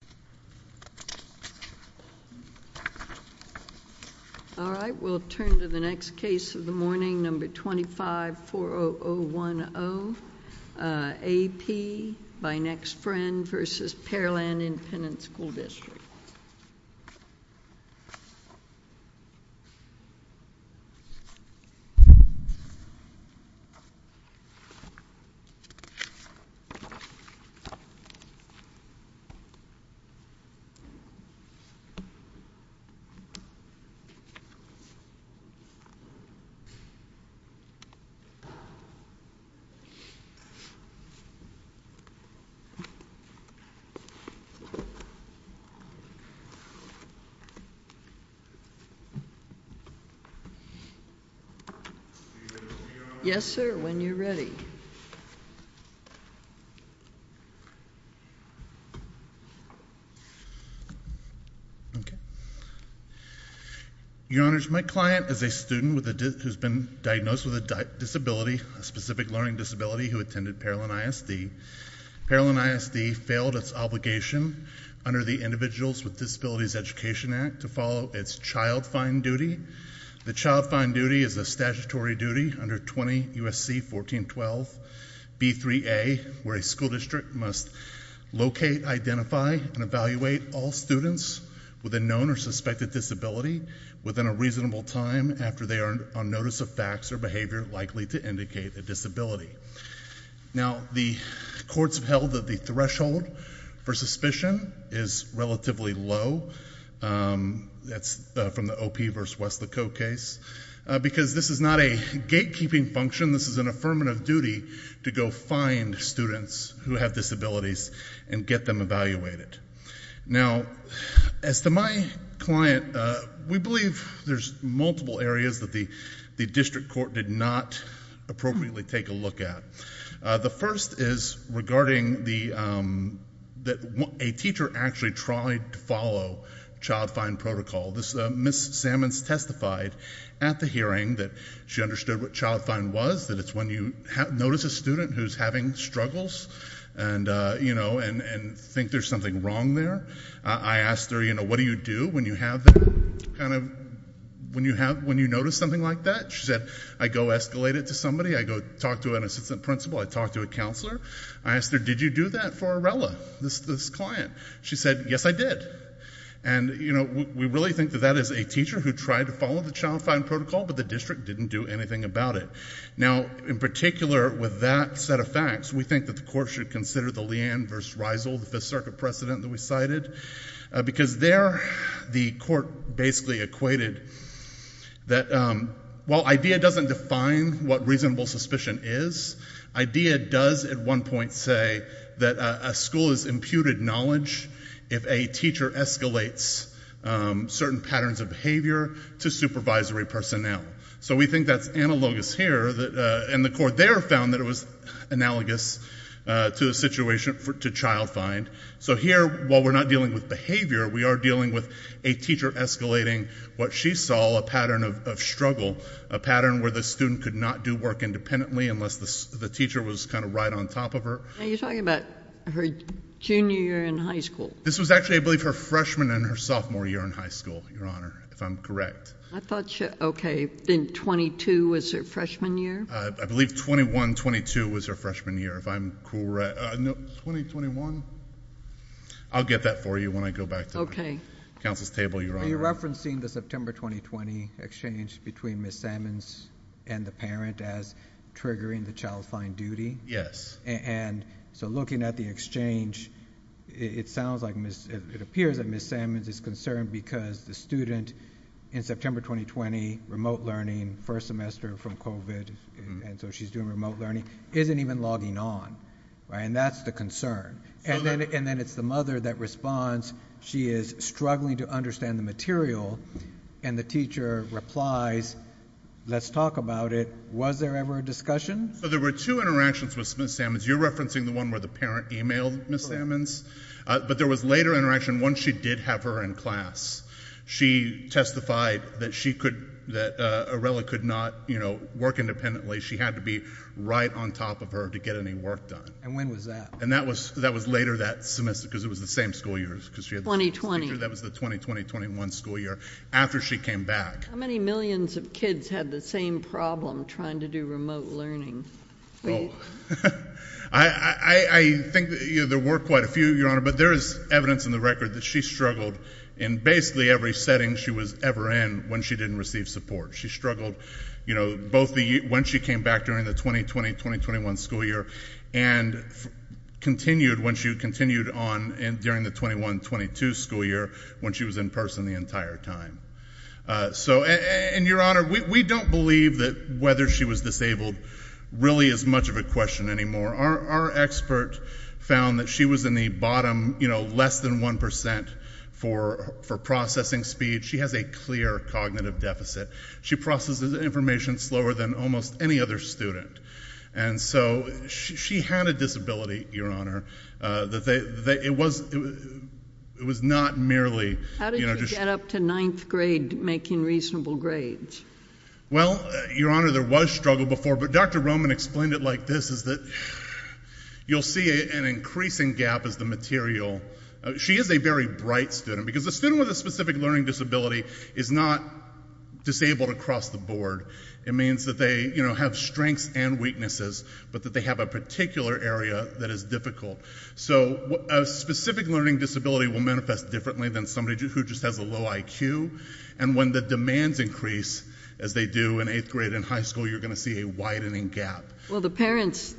A.P. v. Pearland Independent School District A.P. v. Pearland Independent School District Your Honors, my client is a student who has been diagnosed with a disability, a specific learning disability, who attended Pearland ISD. Pearland ISD failed its obligation under the Individuals with Disabilities Education Act to follow its child-fine duty. The child-fine duty is a statutory duty under 20 U.S.C. 1412 B.3.A. where a school district must locate, identify, and evaluate all students with a known or suspected disability within a reasonable time after they are on notice of facts or behavior likely to indicate a disability. Now, the courts have held that the threshold for suspicion is relatively low. That's from the O.P. v. West Licote case. Because this is not a gatekeeping function, this is an affirmative duty to go find students who have disabilities and get them evaluated. Now, as to my client, we believe there's multiple areas that the district court did not appropriately take a look at. The first is regarding that a teacher actually tried to follow child-fine protocol. Ms. Sammons testified at the hearing that she understood what child-fine was, that it's when you notice a student who's having struggles and think there's something wrong there. I asked her, what do you do when you notice something like that? She said, I go escalate it to somebody. I go talk to an assistant principal. I talk to a counselor. I asked her, did you do that for Arella, this client? She said, yes, I did. And we really think that that is a teacher who tried to follow the child-fine protocol, but the district didn't do anything about it. Now, in particular, with that set of facts, we think that the court should consider the Leanne v. Reisel, the Fifth Circuit precedent that we cited. Because there, the court basically equated that while IDEA doesn't define what reasonable suspicion is, IDEA does at one point say that a school is imputed knowledge if a teacher escalates certain patterns of behavior to supervisory personnel. So we think that's analogous here. And the court there found that it was analogous to the situation to child-fine. So here, while we're not dealing with behavior, we are dealing with a teacher escalating what she saw, a pattern of struggle, a pattern where the student could not do work independently unless the teacher was kind of right on top of her. Are you talking about her junior year in high school? This was actually, I believe, her freshman and her sophomore year in high school, Your Honor, if I'm correct. I thought, okay, then 22 was her freshman year? I believe 21-22 was her freshman year, if I'm correct. No, 20-21? I'll get that for you when I go back to the counsel's table, Your Honor. Are you referencing the September 2020 exchange between Ms. Sammons and the parent as triggering the child-fine duty? Yes. And so looking at the exchange, it appears that Ms. Sammons is concerned because the student in September 2020, remote learning, first semester from COVID, and so she's doing remote learning, isn't even logging on. And that's the concern. And then it's the mother that responds. She is struggling to understand the material. And the teacher replies, let's talk about it. Was there ever a discussion? There were two interactions with Ms. Sammons. You're referencing the one where the parent emailed Ms. Sammons. But there was later interaction once she did have her in class. She testified that Aurelia could not work independently. She had to be right on top of her to get any work done. And when was that? And that was later that semester because it was the same school year. 2020. That was the 2020-2021 school year after she came back. How many millions of kids had the same problem trying to do remote learning? I think there were quite a few, Your Honor. But there is evidence in the record that she struggled in basically every setting she was ever in when she didn't receive support. She struggled, you know, both when she came back during the 2020-2021 school year and continued when she continued on during the 2021-2022 school year when she was in person the entire time. So, and Your Honor, we don't believe that whether she was disabled really is much of a question anymore. Our expert found that she was in the bottom, you know, less than 1% for processing speed. She has a clear cognitive deficit. She processes information slower than almost any other student. And so she had a disability, Your Honor. It was not merely, you know, just making reasonable grades. Well, Your Honor, there was struggle before, but Dr. Roman explained it like this, is that you'll see an increasing gap as the material. She is a very bright student because a student with a specific learning disability is not disabled across the board. It means that they, you know, have strengths and weaknesses, but that they have a particular area that is difficult. So a specific learning disability will manifest differently than somebody who just has a low IQ. And when the demands increase, as they do in eighth grade and high school, you're going to see a widening gap. Well, the parents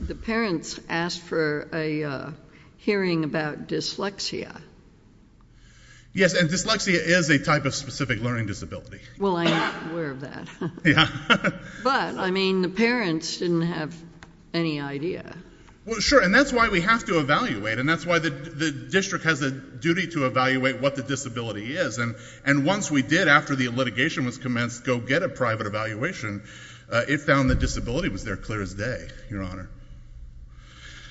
asked for a hearing about dyslexia. Yes, and dyslexia is a type of specific learning disability. Well, I'm not aware of that. Yeah. But, I mean, the parents didn't have any idea. Well, sure, and that's why we have to evaluate, and that's why the district has a duty to evaluate what the disability is. And once we did, after the litigation was commenced, go get a private evaluation, it found the disability was there clear as day, Your Honor.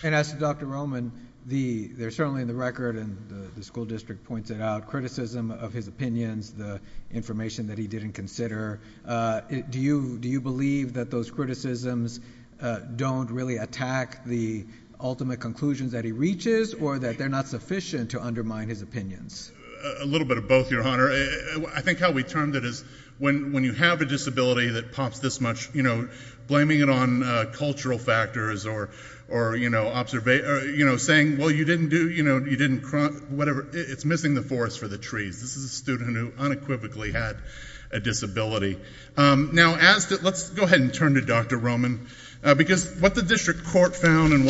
And as to Dr. Roman, there's certainly in the record, and the school district points it out, criticism of his opinions, the information that he didn't consider. Do you believe that those criticisms don't really attack the ultimate conclusions that he reaches, or that they're not sufficient to undermine his opinions? A little bit of both, Your Honor. I think how we termed it is when you have a disability that pops this much, you know, blaming it on cultural factors or, you know, saying, well, you didn't do, you know, you didn't crop, whatever. It's missing the forest for the trees. This is a student who unequivocally had a disability. Now, let's go ahead and turn to Dr. Roman, because what the district court found and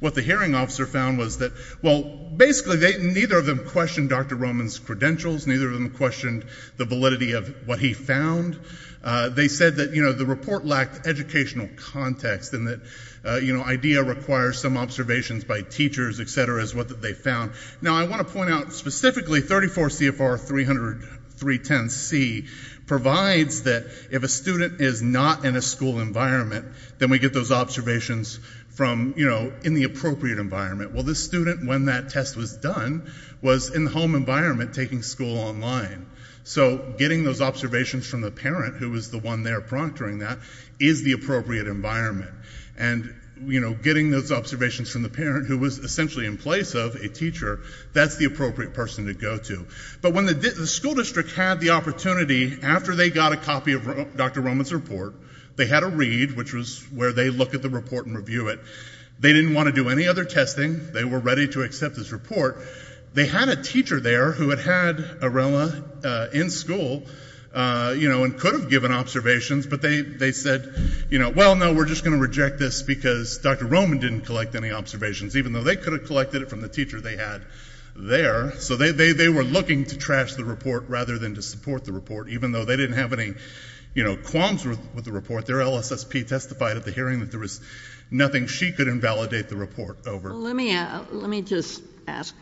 what the hearing officer found was that, well, basically neither of them questioned Dr. Roman's credentials, neither of them questioned the validity of what he found. They said that, you know, the report lacked educational context and that, you know, IDEA requires some observations by teachers, et cetera, is what they found. Now, I want to point out specifically 34 CFR 300.310C provides that if a student is not in a school environment, then we get those observations from, you know, in the appropriate environment. Well, this student, when that test was done, was in the home environment taking school online. So getting those observations from the parent, who was the one there proctoring that, is the appropriate environment. And, you know, getting those observations from the parent, who was essentially in place of a teacher, that's the appropriate person to go to. But when the school district had the opportunity, after they got a copy of Dr. Roman's report, they had a read, which was where they look at the report and review it. They didn't want to do any other testing. They were ready to accept this report. They had a teacher there who had had areola in school, you know, and could have given observations, but they said, you know, well, no, we're just going to reject this because Dr. Roman didn't collect any observations, even though they could have collected it from the teacher they had there. So they were looking to trash the report rather than to support the report, even though they didn't have any, you know, qualms with the report. Their LSSP testified at the hearing that there was nothing she could invalidate the report over. Well, let me just ask,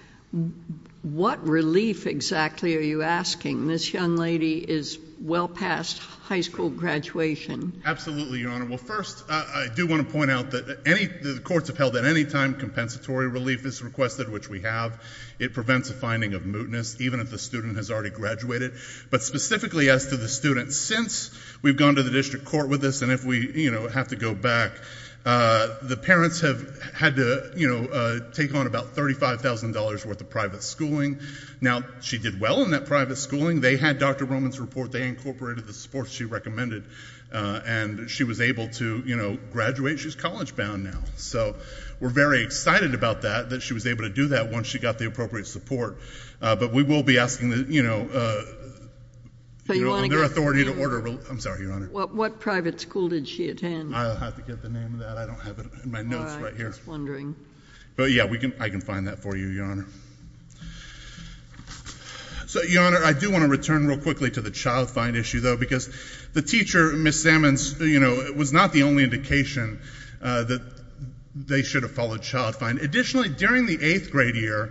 what relief exactly are you asking? This young lady is well past high school graduation. Absolutely, Your Honor. Well, first, I do want to point out that the courts have held that any time compensatory relief is requested, which we have, it prevents a finding of mootness, even if the student has already graduated. But specifically as to the student, since we've gone to the district court with this, and if we, you know, have to go back, the parents have had to, you know, take on about $35,000 worth of private schooling. Now, she did well in that private schooling. They had Dr. Roman's report. They incorporated the support she recommended. And she was able to, you know, graduate. She's college-bound now. So we're very excited about that, that she was able to do that once she got the appropriate support. But we will be asking, you know, their authority to order relief. I'm sorry, Your Honor. What private school did she attend? I'll have to get the name of that. I don't have it in my notes right here. I was wondering. But, yeah, I can find that for you, Your Honor. So, Your Honor, I do want to return real quickly to the child find issue, though, because the teacher, Ms. Sammons, you know, was not the only indication that they should have followed child find. Additionally, during the eighth grade year,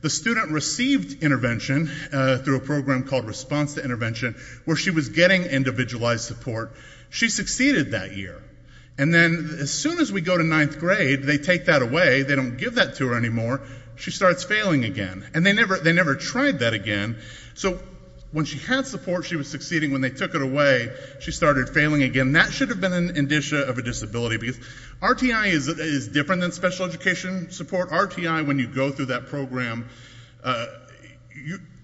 the student received intervention through a program called Response to Intervention, where she was getting individualized support. She succeeded that year. And then as soon as we go to ninth grade, they take that away. They don't give that to her anymore. She starts failing again. And they never tried that again. So when she had support, she was succeeding. When they took it away, she started failing again. That should have been an indicia of a disability. Because RTI is different than special education support. RTI, when you go through that program,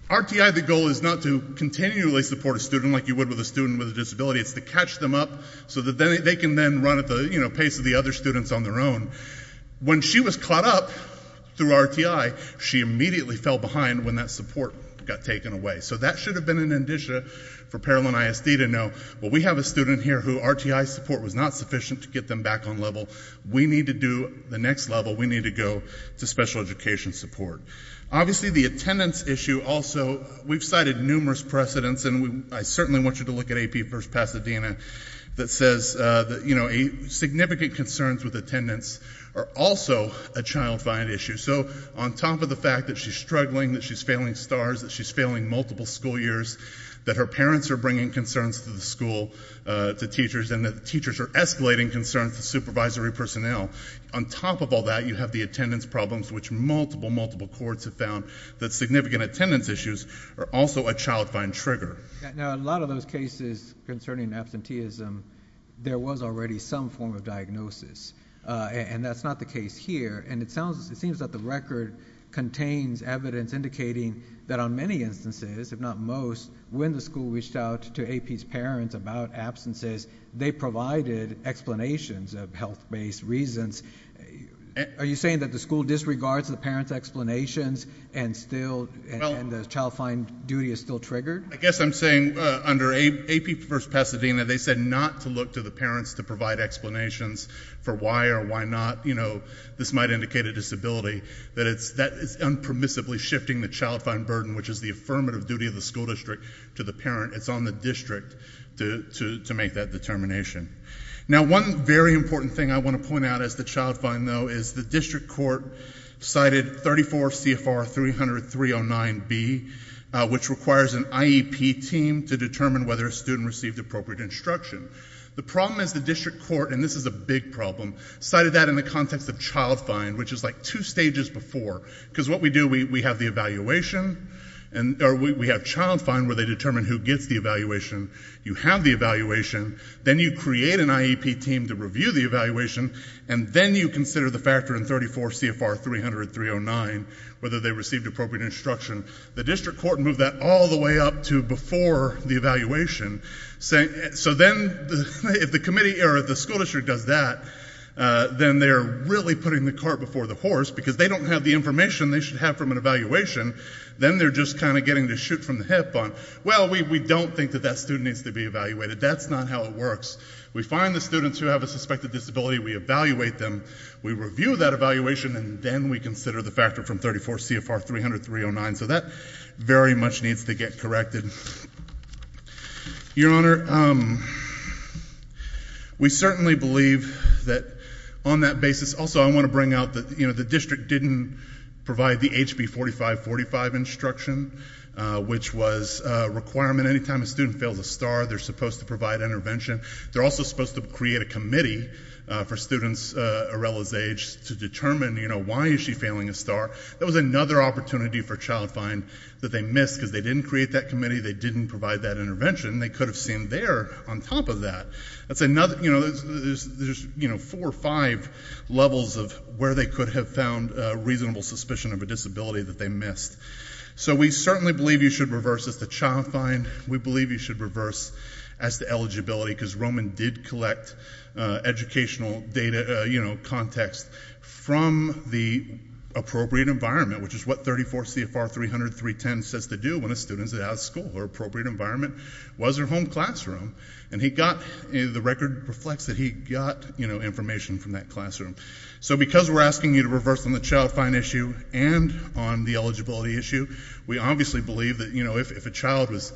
RTI, the goal is not to continually support a student like you would with a student with a disability. It's to catch them up so that they can then run at the pace of the other students on their own. When she was caught up through RTI, she immediately fell behind when that support got taken away. So that should have been an indicia for Paralim ISD to know, well, we have a student here who RTI support was not sufficient to get them back on level. We need to do the next level. We need to go to special education support. Obviously, the attendance issue also, we've cited numerous precedents. And I certainly want you to look at AP First Pasadena that says that significant concerns with attendance are also a child find issue. So on top of the fact that she's struggling, that she's failing STARS, that she's failing multiple school years, that her parents are bringing concerns to the school, to teachers, and that teachers are escalating concerns to supervisory personnel. On top of all that, you have the attendance problems, which multiple, multiple courts have found that significant attendance issues are also a child find trigger. Now, a lot of those cases concerning absenteeism, there was already some form of diagnosis. And that's not the case here. And it seems that the record contains evidence indicating that on many instances, if not most, when the school reached out to AP's parents about absences, they provided explanations of health-based reasons. Are you saying that the school disregards the parents' explanations and the child find duty is still triggered? I guess I'm saying under AP First Pasadena, they said not to look to the parents to provide explanations for why or why not. You know, this might indicate a disability, that it's unpermissibly shifting the child find burden, which is the affirmative duty of the school district, to the parent. It's on the district to make that determination. Now, one very important thing I want to point out as the child find, though, is the district court cited 34 CFR 30309B, which requires an IEP team to determine whether a student received appropriate instruction. The problem is the district court, and this is a big problem, cited that in the context of child find, which is like two stages before. Because what we do, we have the evaluation, or we have child find, where they determine who gets the evaluation. You have the evaluation. Then you create an IEP team to review the evaluation. And then you consider the factor in 34 CFR 300309, whether they received appropriate instruction. The district court moved that all the way up to before the evaluation. So then if the school district does that, then they're really putting the cart before the horse, because they don't have the information they should have from an evaluation. Then they're just kind of getting the shoot from the hip on, well, we don't think that that student needs to be evaluated. That's not how it works. We find the students who have a suspected disability. We evaluate them. We review that evaluation, and then we consider the factor from 34 CFR 300309. So that very much needs to get corrected. Your Honor, we certainly believe that on that basis. Also, I want to bring out that the district didn't provide the HB 4545 instruction, which was a requirement. Anytime a student fails a STAR, they're supposed to provide intervention. They're also supposed to create a committee for students Arella's age to determine why is she failing a STAR. That was another opportunity for child find that they missed, because they didn't create that committee. They didn't provide that intervention. They could have seen there on top of that. There's four or five levels of where they could have found reasonable suspicion of a disability that they missed. So we certainly believe you should reverse this to child find. We believe you should reverse as to eligibility, because Roman did collect educational data context from the appropriate environment, which is what 34 CFR 300310 says to do when a student is out of school. Her appropriate environment was her home classroom. And the record reflects that he got information from that classroom. So because we're asking you to reverse on the child find issue and on the eligibility issue, we obviously believe that, you know, if a child was,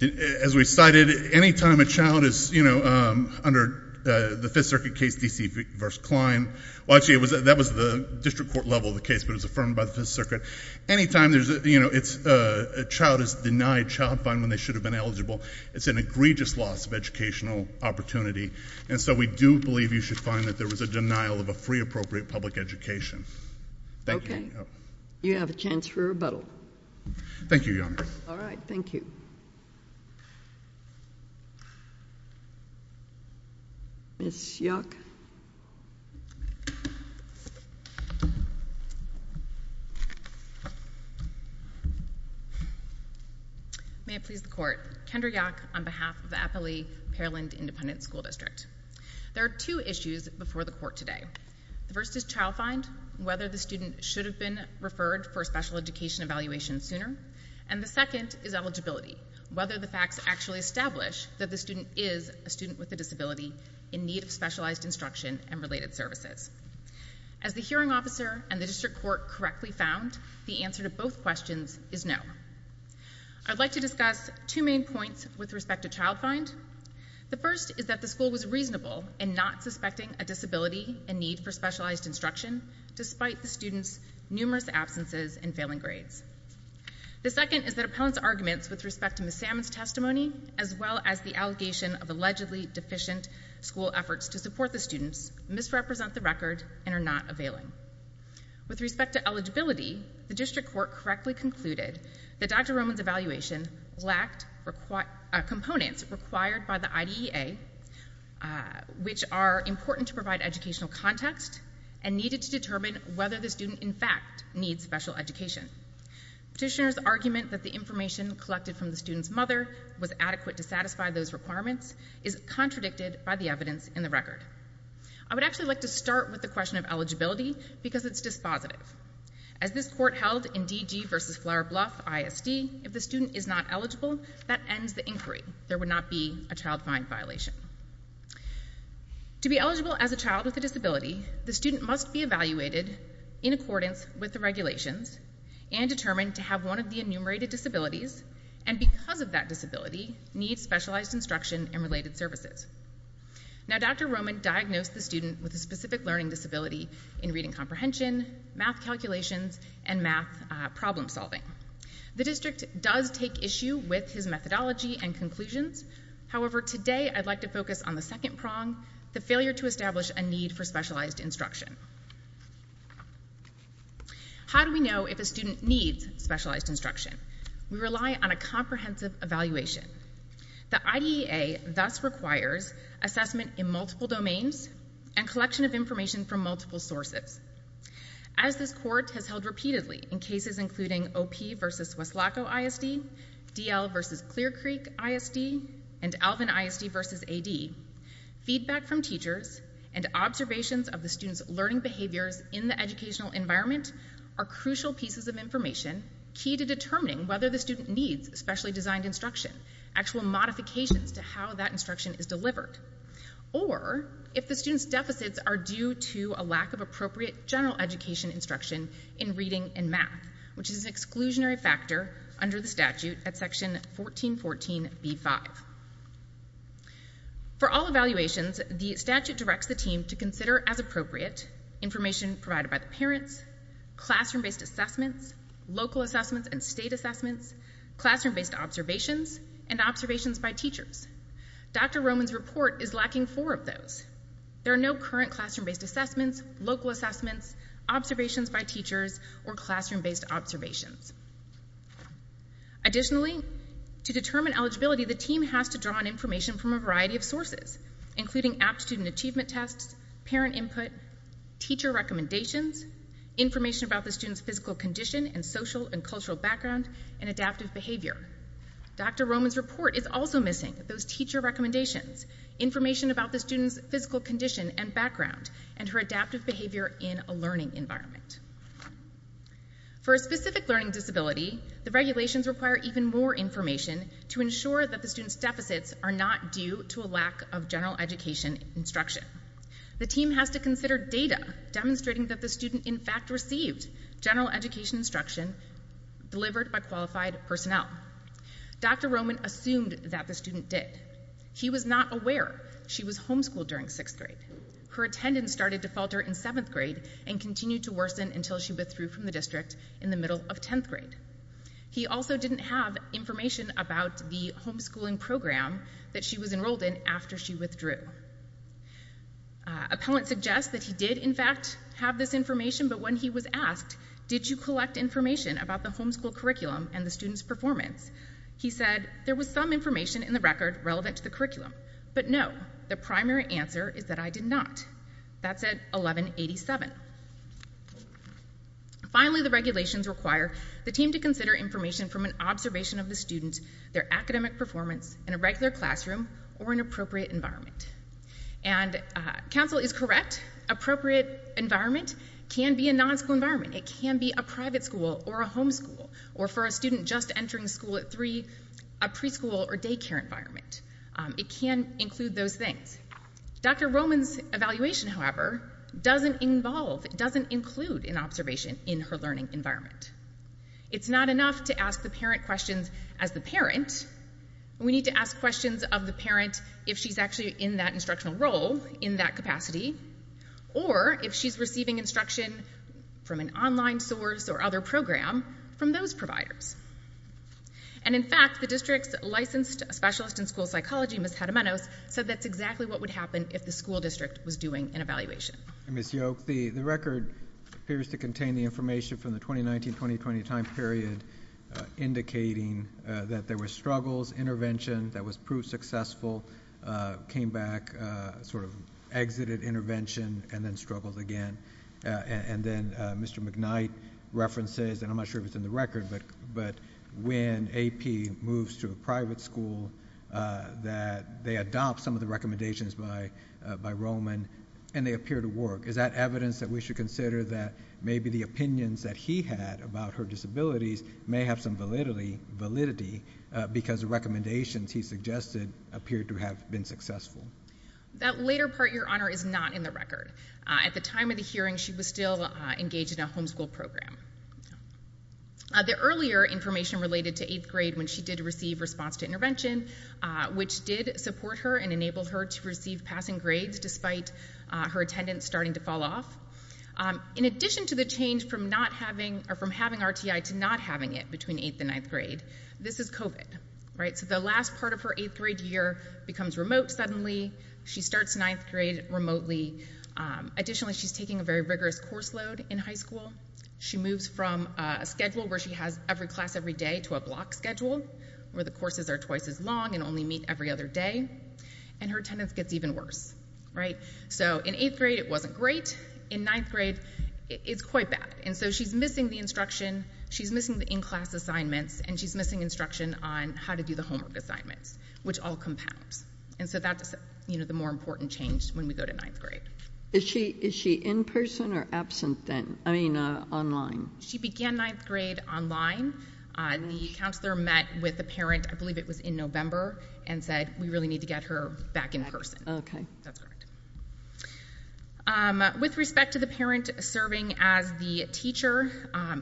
as we cited, anytime a child is, you know, under the Fifth Circuit case D.C. v. Klein, well, actually, that was the district court level of the case, but it was affirmed by the Fifth Circuit. Anytime there's, you know, a child is denied child find when they should have been eligible, it's an egregious loss of educational opportunity. And so we do believe you should find that there was a denial of a free appropriate public education. Thank you. Okay. You have a chance for rebuttal. Thank you, Your Honor. All right. Thank you. Ms. Yock. May it please the Court. Kendra Yock on behalf of Appalachia Paralind Independent School District. There are two issues before the Court today. The first is child find, whether the student should have been referred for special education evaluation sooner. And the second is eligibility, whether the facts actually establish that the student is a student with a disability in need of specialized instruction and related services. As the hearing officer and the district court correctly found, the answer to both questions is no. I'd like to discuss two main points with respect to child find. The first is that the school was reasonable in not suspecting a disability in need for specialized instruction, despite the student's numerous absences and failing grades. The second is that appellant's arguments with respect to Ms. Salmon's testimony, as well as the allegation of allegedly deficient school efforts to support the students, misrepresent the record and are not availing. With respect to eligibility, the district court correctly concluded that Dr. Roman's evaluation lacked components required by the IDEA, which are important to provide educational context and needed to determine whether the student, in fact, needs special education. Petitioner's argument that the information collected from the student's mother was adequate to satisfy those requirements is contradicted by the evidence in the record. I would actually like to start with the question of eligibility because it's dispositive. As this court held in DG v. Flour Bluff ISD, if the student is not eligible, that ends the inquiry. There would not be a child find violation. To be eligible as a child with a disability, the student must be evaluated in accordance with the regulations and determined to have one of the enumerated disabilities, and because of that disability, need specialized instruction and related services. Now, Dr. Roman diagnosed the student with a specific learning disability in reading comprehension, math calculations and math problem solving. The district does take issue with his methodology and conclusions. However, today I'd like to focus on the second prong, the failure to establish a need for specialized instruction. How do we know if a student needs specialized instruction? We rely on a comprehensive evaluation. The IDEA thus requires assessment in multiple domains and collection of information from multiple sources. As this court has held repeatedly in cases including OP v. Weslaco ISD, DL v. Clear Creek ISD and Alvin ISD v. AD, feedback from teachers and observations of the student's learning behaviors in the educational environment are crucial pieces of information, key to determining whether the student needs specially designed instruction, actual modifications to how that instruction is delivered, or if the student's deficits are due to a lack of appropriate general education instruction in reading and math, which is an exclusionary factor under the statute at section 1414b-5. For all evaluations, the statute directs the team to consider as appropriate information provided by the parents, classroom-based assessments, local assessments and state assessments, classroom-based observations, and observations by teachers. Dr. Roman's report is lacking four of those. There are no current classroom-based assessments, local assessments, observations by teachers, or classroom-based observations. Additionally, to determine eligibility, the team has to draw on information from a variety of sources, including aptitude and achievement tests, parent input, teacher recommendations, information about the student's physical condition and social and cultural background, and adaptive behavior. Dr. Roman's report is also missing those teacher recommendations, information about the student's physical condition and background, and her adaptive behavior in a learning environment. For a specific learning disability, the regulations require even more information to ensure that the student's deficits are not due to a lack of general education instruction. The team has to consider data demonstrating that the student in fact received general education instruction delivered by qualified personnel. Dr. Roman assumed that the student did. He was not aware she was homeschooled during 6th grade. Her attendance started to falter in 7th grade and continued to worsen until she withdrew from the district in the middle of 10th grade. He also didn't have information about the homeschooling program that she was enrolled in after she withdrew. Appellant suggests that he did, in fact, have this information, but when he was asked, did you collect information about the homeschool curriculum and the student's performance? He said, there was some information in the record relevant to the curriculum, but no, the primary answer is that I did not. That's at 1187. Finally, the regulations require the team to consider information from an observation of the student, their academic performance in a regular classroom or an appropriate environment. And counsel is correct. Appropriate environment can be a non-school environment. It can be a private school or a homeschool, or for a student just entering school at 3, a preschool or daycare environment. It can include those things. Dr. Roman's evaluation, however, doesn't involve, doesn't include an observation in her learning environment. It's not enough to ask the parent questions as the parent. We need to ask questions of the parent if she's actually in that instructional role, in that capacity, or if she's receiving instruction from an online source or other program from those providers. And in fact, the district's licensed specialist in school psychology, Ms. Jaramenos, said that's exactly what would happen if the school district was doing an evaluation. Ms. Yoke, the record appears to contain the information from the 2019-2020 time period, indicating that there were struggles, interventions, that was proved successful, came back, sort of exited intervention, and then struggled again. And then Mr. McKnight references, and I'm not sure if it's in the record, but when AP moves to a private school, that they adopt some of the recommendations by Roman and they appear to work. Is that evidence that we should consider that maybe the opinions that he had about her disabilities may have some validity because the recommendations he suggested appear to have been successful? That later part, Your Honor, is not in the record. At the time of the hearing, she was still engaged in a homeschool program. The earlier information related to 8th grade when she did receive response to intervention, which did support her and enabled her to receive passing grades despite her attendance starting to fall off. In addition to the change from having RTI to not having it between 8th and 9th grade, this is COVID. The last part of her 8th grade year becomes remote suddenly. She starts 9th grade remotely. Additionally, she's taking a very rigorous course load in high school. She moves from a schedule where she has every class every day to a block schedule where the courses are twice as long and only meet every other day, and her attendance gets even worse. In 8th grade, it wasn't great. In 9th grade, it's quite bad. She's missing the instruction. She's missing the in-class assignments, and she's missing instruction on how to do the homework assignments, which all compounds. That's the more important change when we go to 9th grade. Is she in person or absent then? I mean online. She began 9th grade online. The counselor met with the parent, I believe it was in November, and said, we really need to get her back in person. Okay. That's correct. With respect to the parent serving as the teacher,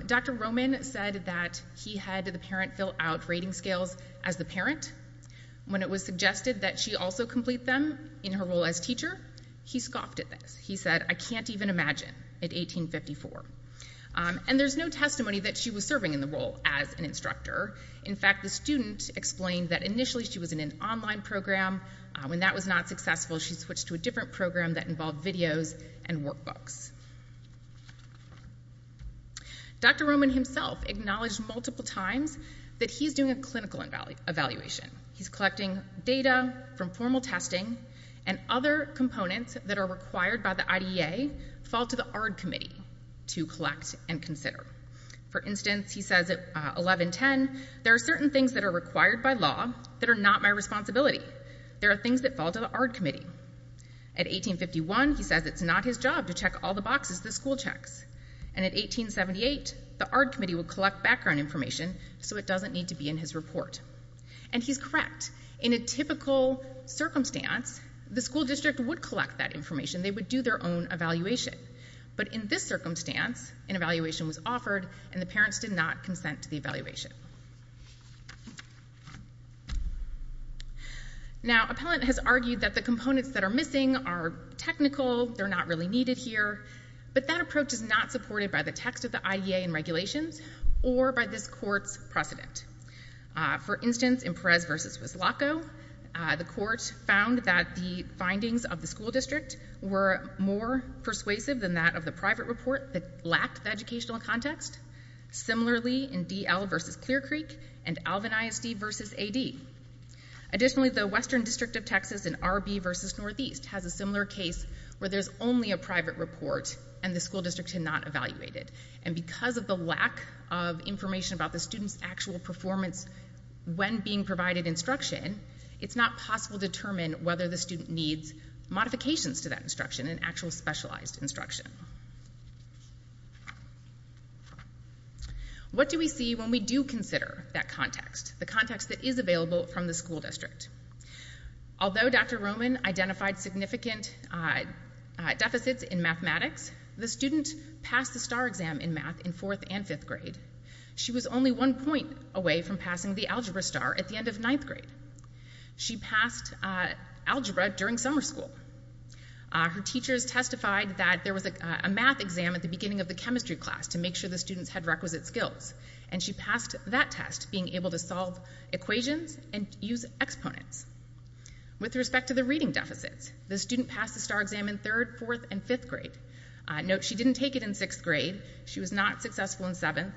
Dr. Roman said that he had the parent fill out rating scales as the parent. When it was suggested that she also complete them in her role as teacher, he scoffed at this. He said, I can't even imagine at 1854. And there's no testimony that she was serving in the role as an instructor. In fact, the student explained that initially she was in an online program. When that was not successful, she switched to a different program that involved videos and workbooks. Dr. Roman himself acknowledged multiple times that he's doing a clinical evaluation. He's collecting data from formal testing, and other components that are required by the IDEA fall to the ARD committee to collect and consider. For instance, he says at 1110, there are certain things that are required by law that are not my responsibility. There are things that fall to the ARD committee. At 1851, he says it's not his job to check all the boxes the school checks. And at 1878, the ARD committee would collect background information so it doesn't need to be in his report. And he's correct. In a typical circumstance, the school district would collect that information. They would do their own evaluation. But in this circumstance, an evaluation was offered, and the parents did not consent to the evaluation. Now, Appellant has argued that the components that are missing are technical, they're not really needed here. But that approach is not supported by the text of the IDEA and regulations or by this court's precedent. For instance, in Perez v. Wislocko, the court found that the findings of the school district were more persuasive than that of the private report that lacked the educational context. Similarly, in D.L. v. Clear Creek and Alvin ISD v. A.D. Additionally, the Western District of Texas in R.B. v. Northeast has a similar case where there's only a private report and the school district had not evaluated. And because of the lack of information about the student's actual performance when being provided instruction, it's not possible to determine whether the student needs modifications to that instruction, an actual specialized instruction. What do we see when we do consider that context, the context that is available from the school district? Although Dr. Roman identified significant deficits in mathematics, the student passed the STAR exam in math in fourth and fifth grade. She was only one point away from passing the Algebra STAR at the end of ninth grade. She passed Algebra during summer school. Her teachers testified that there was a math exam at the beginning of the chemistry class to make sure the students had requisite skills, and she passed that test being able to solve equations and use exponents. With respect to the reading deficits, the student passed the STAR exam in third, fourth, and fifth grade. Note she didn't take it in sixth grade. She was not successful in seventh,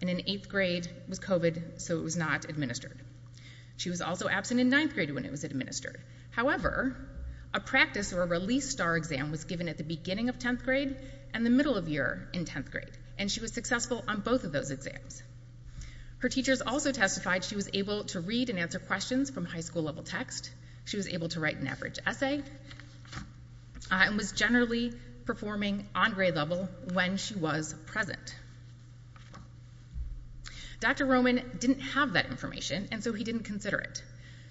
and in eighth grade was COVID, so it was not administered. She was also absent in ninth grade when it was administered. However, a practice or a release STAR exam was given at the beginning of tenth grade and the middle of year in tenth grade, and she was successful on both of those exams. Her teachers also testified she was able to read and answer questions from high school-level text. She was able to write an average essay and was generally performing on grade level when she was present. Dr. Roman didn't have that information, and so he didn't consider it.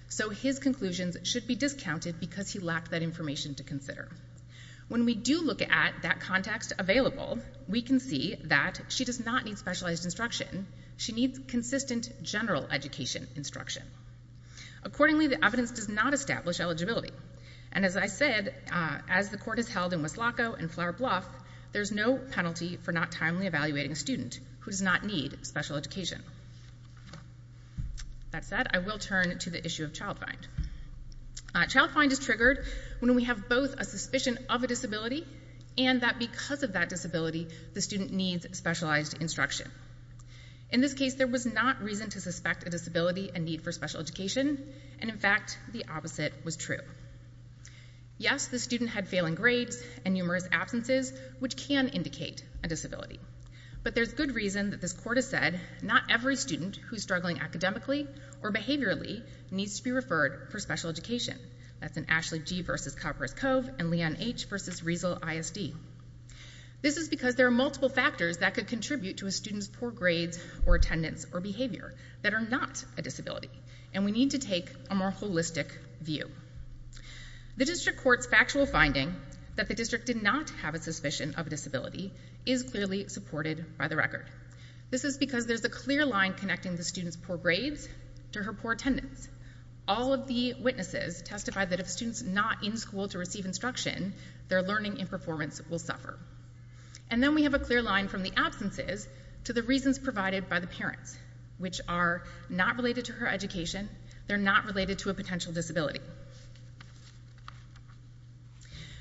So his conclusions should be discounted because he lacked that information to consider. When we do look at that context available, we can see that she does not need specialized instruction. She needs consistent general education instruction. Accordingly, the evidence does not establish eligibility. And as I said, as the court has held in Wislako and Flair Bluff, there's no penalty for not timely evaluating a student who does not need special education. That said, I will turn to the issue of child find. Child find is triggered when we have both a suspicion of a disability and that because of that disability, the student needs specialized instruction. In this case, there was not reason to suspect a disability and need for special education, and in fact, the opposite was true. Yes, the student had failing grades and numerous absences, which can indicate a disability. But there's good reason that this court has said not every student who's struggling academically or behaviorally needs to be referred for special education. That's in Ashley G. v. Copper's Cove and Leon H. v. Riesel ISD. This is because there are multiple factors that could contribute to a student's poor grades or attendance or behavior that are not a disability, and we need to take a more holistic view. The district court's factual finding that the district did not have a suspicion of a disability is clearly supported by the record. This is because there's a clear line connecting the student's poor grades to her poor attendance. All of the witnesses testified that if students not in school to receive instruction, their learning and performance will suffer. And then we have a clear line from the absences to the reasons provided by the parents, which are not related to her education. They're not related to a potential disability.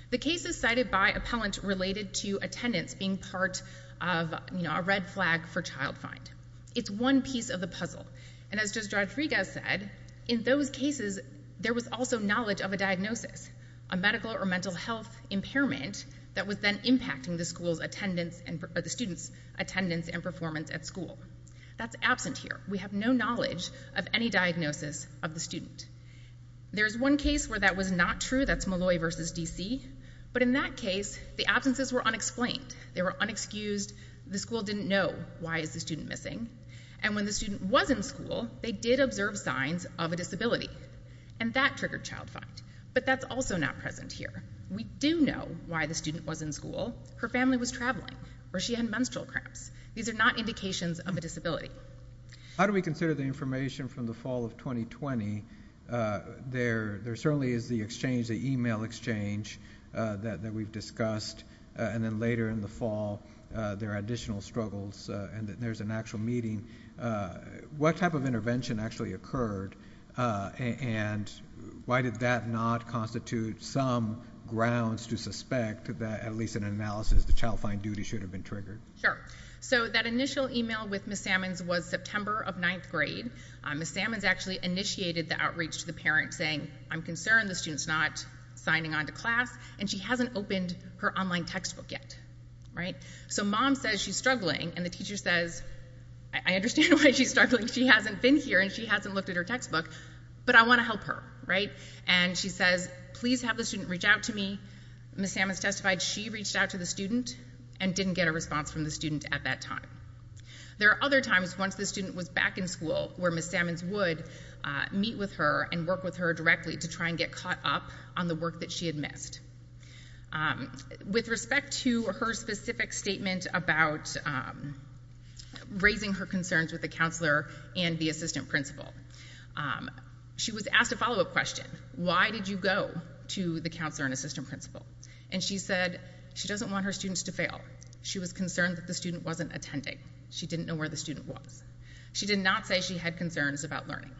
The case is cited by appellant related to attendance being part of a red flag for child find. It's one piece of the puzzle. And as Judge Rodriguez said, in those cases there was also knowledge of a diagnosis, a medical or mental health impairment that was then impacting the student's attendance and performance at school. That's absent here. We have no knowledge of any diagnosis of the student. There's one case where that was not true. That's Malloy v. D.C. But in that case, the absences were unexplained. They were unexcused. The school didn't know why is the student missing. And when the student was in school, they did observe signs of a disability. And that triggered child find. But that's also not present here. We do know why the student was in school. Her family was traveling or she had menstrual cramps. These are not indications of a disability. How do we consider the information from the fall of 2020? There certainly is the exchange, the e-mail exchange that we've discussed. And then later in the fall, there are additional struggles. And there's an actual meeting. What type of intervention actually occurred? And why did that not constitute some grounds to suspect that at least in analysis, the child find duty should have been triggered? Sure. So that initial e-mail with Ms. Sammons was September of ninth grade. Ms. Sammons actually initiated the outreach to the parents saying, I'm concerned the student's not signing on to class. And she hasn't opened her online textbook yet. Right? So mom says she's struggling. And the teacher says, I understand why she's struggling. She hasn't been here. And she hasn't looked at her textbook. But I want to help her. Right? And she says, please have the student reach out to me. Ms. Sammons testified she reached out to the student and didn't get a response from the student at that time. There are other times once the student was back in school where Ms. Sammons would meet with her and work with her directly to try and get caught up on the work that she had missed. With respect to her specific statement about raising her concerns with the counselor and the assistant principal, she was asked a follow-up question. Why did you go to the counselor and assistant principal? And she said she doesn't want her students to fail. She was concerned that the student wasn't attending. She didn't know where the student was. She did not say she had concerns about learning.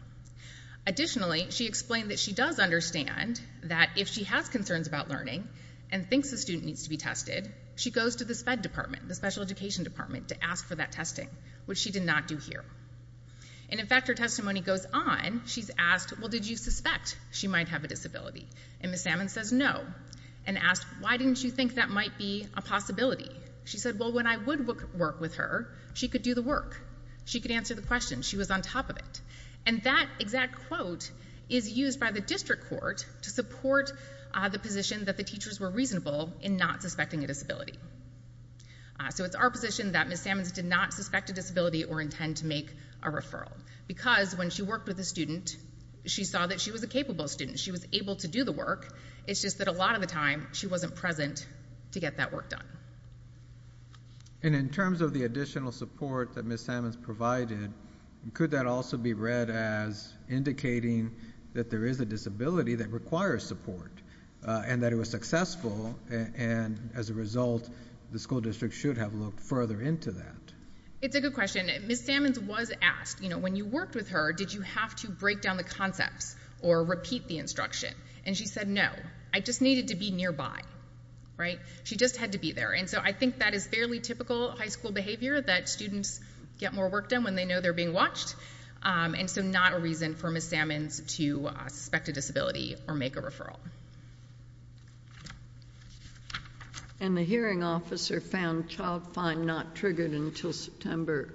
Additionally, she explained that she does understand that if she has concerns about learning and thinks the student needs to be tested, she goes to this fed department, the special education department, to ask for that testing, which she did not do here. And, in fact, her testimony goes on. She's asked, well, did you suspect she might have a disability? And Ms. Sammons says no and asks, why didn't you think that might be a possibility? She said, well, when I would work with her, she could do the work. She could answer the question. She was on top of it. And that exact quote is used by the district court to support the position that the teachers were reasonable in not suspecting a disability. So it's our position that Ms. Sammons did not suspect a disability or intend to make a referral because when she worked with a student, she saw that she was a capable student. She was able to do the work. It's just that a lot of the time she wasn't present to get that work done. And in terms of the additional support that Ms. Sammons provided, could that also be read as indicating that there is a disability that requires support and that it was successful and, as a result, the school district should have looked further into that? It's a good question. Ms. Sammons was asked, you know, when you worked with her, did you have to break down the concepts or repeat the instruction? And she said, no, I just needed to be nearby, right? She just had to be there. And so I think that is fairly typical high school behavior, that students get more work done when they know they're being watched, and so not a reason for Ms. Sammons to suspect a disability or make a referral. And the hearing officer found child fine not triggered until September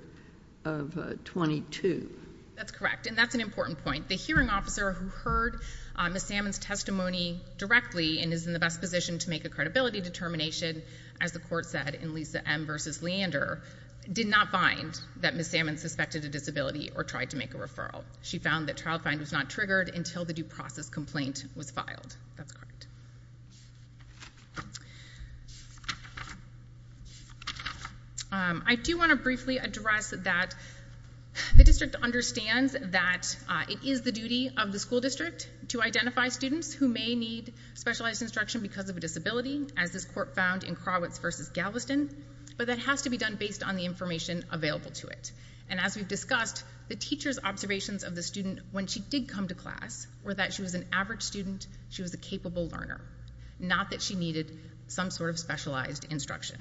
of 22. That's correct, and that's an important point. The hearing officer who heard Ms. Sammons' testimony directly and is in the best position to make a credibility determination, as the court said in Lisa M. v. Leander, did not find that Ms. Sammons suspected a disability or tried to make a referral. She found that child fine was not triggered until the due process complaint was filed. That's correct. I do want to briefly address that the district understands that it is the duty of the school district to identify students who may need specialized instruction because of a disability, as this court found in Krawitz v. Galveston, but that has to be done based on the information available to it. And as we've discussed, the teacher's observations of the student when she did come to class were that she was an average student, she was a capable learner, not that she needed some sort of specialized instruction.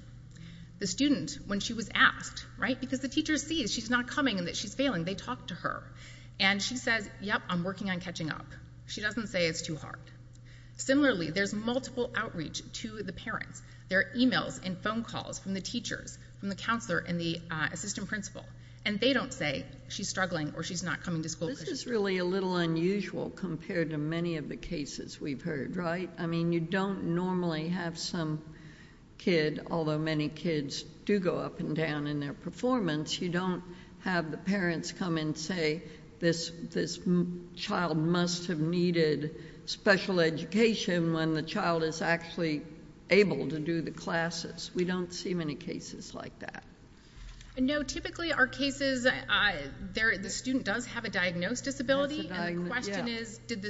The student, when she was asked, right, because the teacher sees she's not coming and that she's failing, they talked to her, and she says, yep, I'm working on catching up. She doesn't say it's too hard. Similarly, there's multiple outreach to the parents. There are e-mails and phone calls from the teachers, from the counselor and the assistant principal, and they don't say she's struggling or she's not coming to school. This is really a little unusual compared to many of the cases we've heard, right? I mean, you don't normally have some kid, although many kids do go up and down in their performance, you don't have the parents come and say, this child must have needed special education when the child is actually able to do the classes. We don't see many cases like that. No, typically our cases, the student does have a diagnosed disability, and the question is, did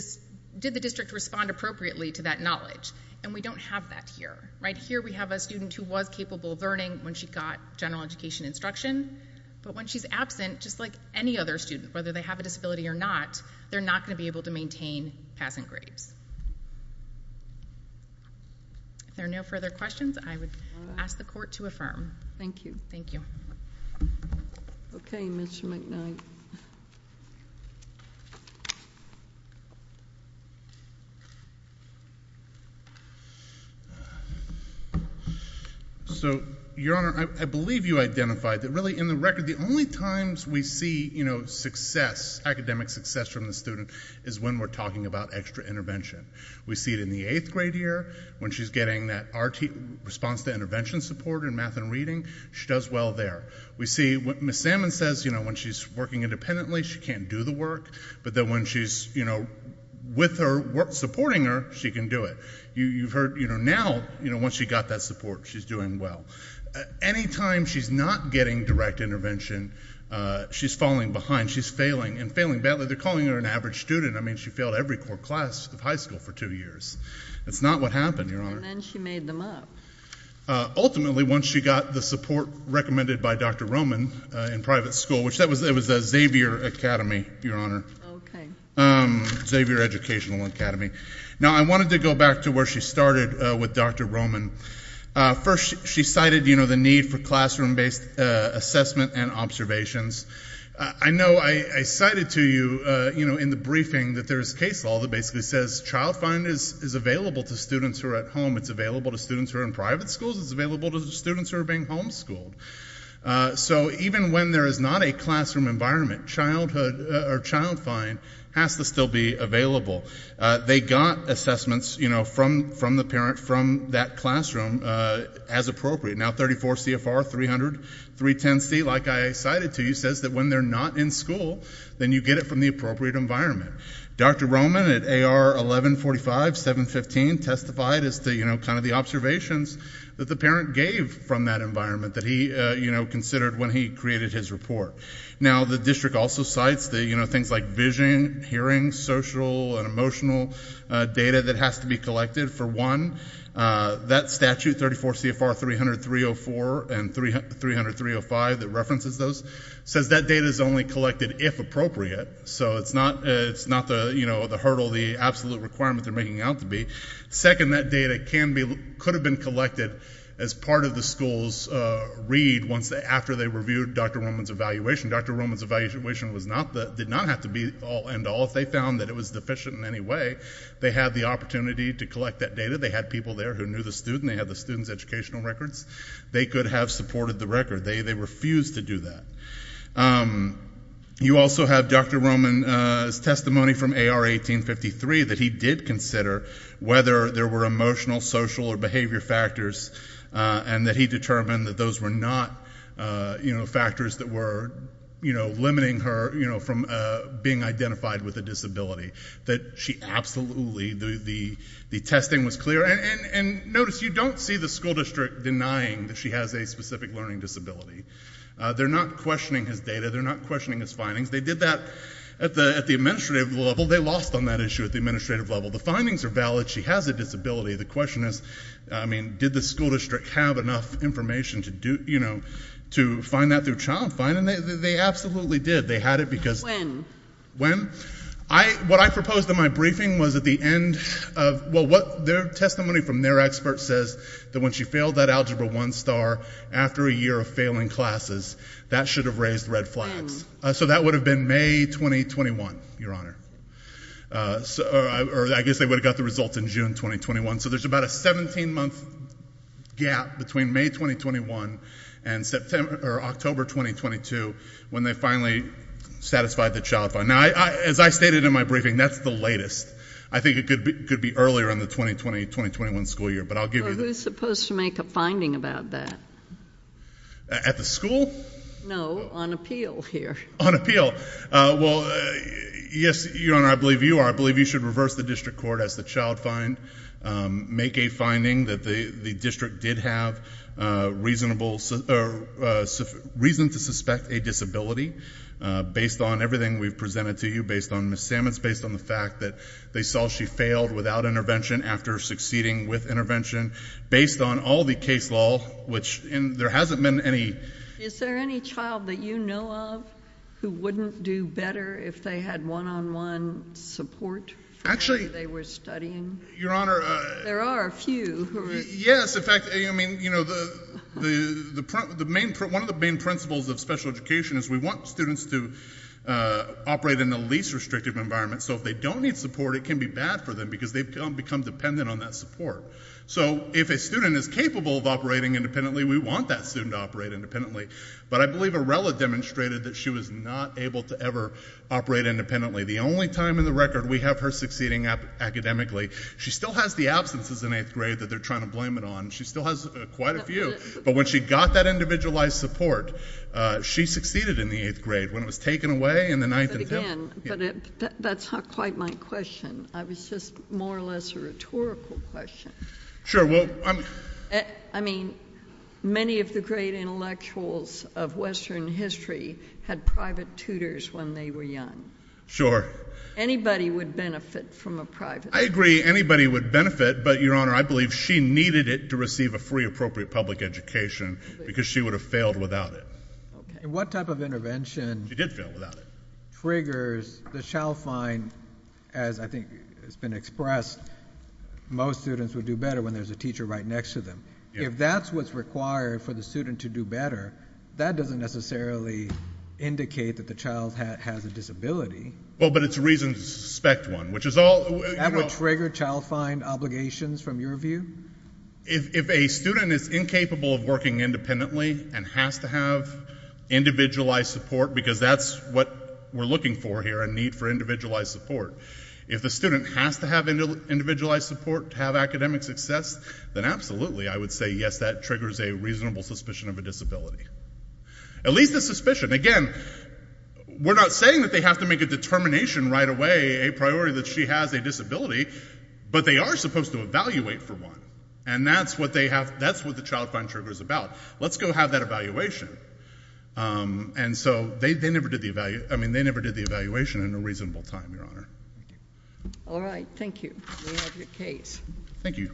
the district respond appropriately to that knowledge? And we don't have that here, right? Here we have a student who was capable of learning when she got general education instruction, but when she's absent, just like any other student, whether they have a disability or not, they're not going to be able to maintain passant grades. If there are no further questions, I would ask the Court to affirm. Thank you. Thank you. Okay, Mr. McKnight. So, Your Honor, I believe you identified that really in the record, the only times we see, you know, success, academic success from the student is when we're talking about extra intervention. We see it in the 8th grade year when she's getting that response to intervention support in math and reading, she does well there. We see what Ms. Salmon says, you know, when she's working independently, she can't do the work, but then when she's, you know, with her, supporting her, she can do it. You've heard, you know, now, once she got that support, she's doing well. Any time she's not getting direct intervention, she's falling behind, she's failing, and failing badly. They're calling her an average student. I mean, she failed every core class of high school for two years. That's not what happened, Your Honor. And then she made them up. Ultimately, once she got the support recommended by Dr. Roman in private school, which that was the Xavier Academy, Your Honor. OK. Xavier Educational Academy. Now, I wanted to go back to where she started with Dr. Roman. First, she cited, you know, the need for classroom-based assessment and observations. I know I cited to you, you know, in the briefing, that there's case law that basically says child find is available to students who are at home. It's available to students who are in private schools. It's available to students who are being home-schooled. So even when there is not a classroom environment, child find has to still be available. They got assessments, you know, from the parent, from that classroom, as appropriate. Now 34 CFR 300 310C, like I cited to you, says that when they're not in school, then you get it from the appropriate environment. Dr. Roman at AR 1145, 715, testified as to, you know, kind of the observations that the parent gave from that environment that he, you know, considered when he created his report. Now the district also cites the, you know, things like vision, hearing, social, and emotional data that has to be collected for one. That statute, 34 CFR 300 304 and 300 305, that references those, says that data is only collected if appropriate. So it's not the, you know, the hurdle, the absolute requirement they're making out to be. Second, that data can be, could have been collected as part of the school's read after they reviewed Dr. Roman's evaluation. Dr. Roman's evaluation did not have to be all and all. If they found that it was deficient in any way, they had the opportunity to collect that data. They had people there who knew the student. They had the student's educational records. They could have supported the record. They refused to do that. You also have Dr. Roman's testimony from AR 1853 that he did consider whether there were emotional, social, or behavior factors, and that he determined that those were not, you know, factors that were, you know, limiting her, you know, from being identified with a disability. That she absolutely, the testing was clear. And notice, you don't see the school district denying that she has a specific learning disability. They're not questioning his data. They're not questioning his findings. They did that at the administrative level. They lost on that issue at the administrative level. The findings are valid. She has a disability. The question is, I mean, did the school district have enough information to do, you know, to find that through child find? And they absolutely did. They had it because... When? When? What I proposed in my briefing was at the end of, well, their testimony from their expert says that when she failed that Algebra 1 star after a year of failing classes, that should have raised red flags. So that would have been May 2021, Your Honor. Or I guess they would have got the results in June 2021. So there's about a 17-month gap between May 2021 and September, or October 2022 when they finally satisfied the child find. Now, as I stated in my briefing, that's the latest. I think it could be earlier in the 2020-2021 school year, but I'll give you the... You're supposed to make a finding about that. At the school? No, on appeal here. On appeal. Well, yes, Your Honor, I believe you are. I believe you should reverse the district court as the child find, make a finding that the district did have reason to suspect a disability based on everything we've presented to you, based on Ms. Samets, based on the fact that they saw she failed without intervention after succeeding with intervention, based on all the case law, which there hasn't been any... Is there any child that you know of who wouldn't do better if they had one-on-one support while they were studying? Your Honor... There are a few. Yes, in fact, I mean, you know, one of the main principles of special education is we want students to operate in the least restrictive environment. So if they don't need support, it can be bad for them because they've become dependent on that support. So if a student is capable of operating independently, we want that student to operate independently. But I believe Arella demonstrated that she was not able to ever operate independently. The only time in the record we have her succeeding academically. She still has the absences in 8th grade that they're trying to blame it on. She still has quite a few. But when she got that individualized support, she succeeded in the 8th grade when it was taken away in the 9th and 10th. But again, that's not quite my question. I was just more or less a rhetorical question. Sure, well... I mean, many of the great intellectuals of Western history had private tutors when they were young. Sure. Anybody would benefit from a private... I agree, anybody would benefit, but, Your Honor, I believe she needed it to receive a free, appropriate public education because she would have failed without it. And what type of intervention... She did fail without it. ...triggers the child-fine, as I think has been expressed, most students would do better when there's a teacher right next to them. If that's what's required for the student to do better, that doesn't necessarily indicate that the child has a disability. Well, but it's a reason to suspect one, which is all... That would trigger child-fine obligations, from your view? If a student is incapable of working independently and has to have individualized support, because that's what we're looking for here, a need for individualized support. If the student has to have individualized support to have academic success, then absolutely, I would say, yes, that triggers a reasonable suspicion of a disability. At least a suspicion. Again, we're not saying that they have to make a determination right away, a priority, that she has a disability, but they are supposed to evaluate for one. And that's what the child-fine trigger's about. Let's go have that evaluation. And so they never did the evaluation in a reasonable time, Your Honour. All right, thank you. We have your case. Thank you.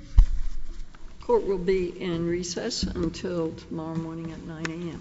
Court will be in recess until tomorrow morning at 9am.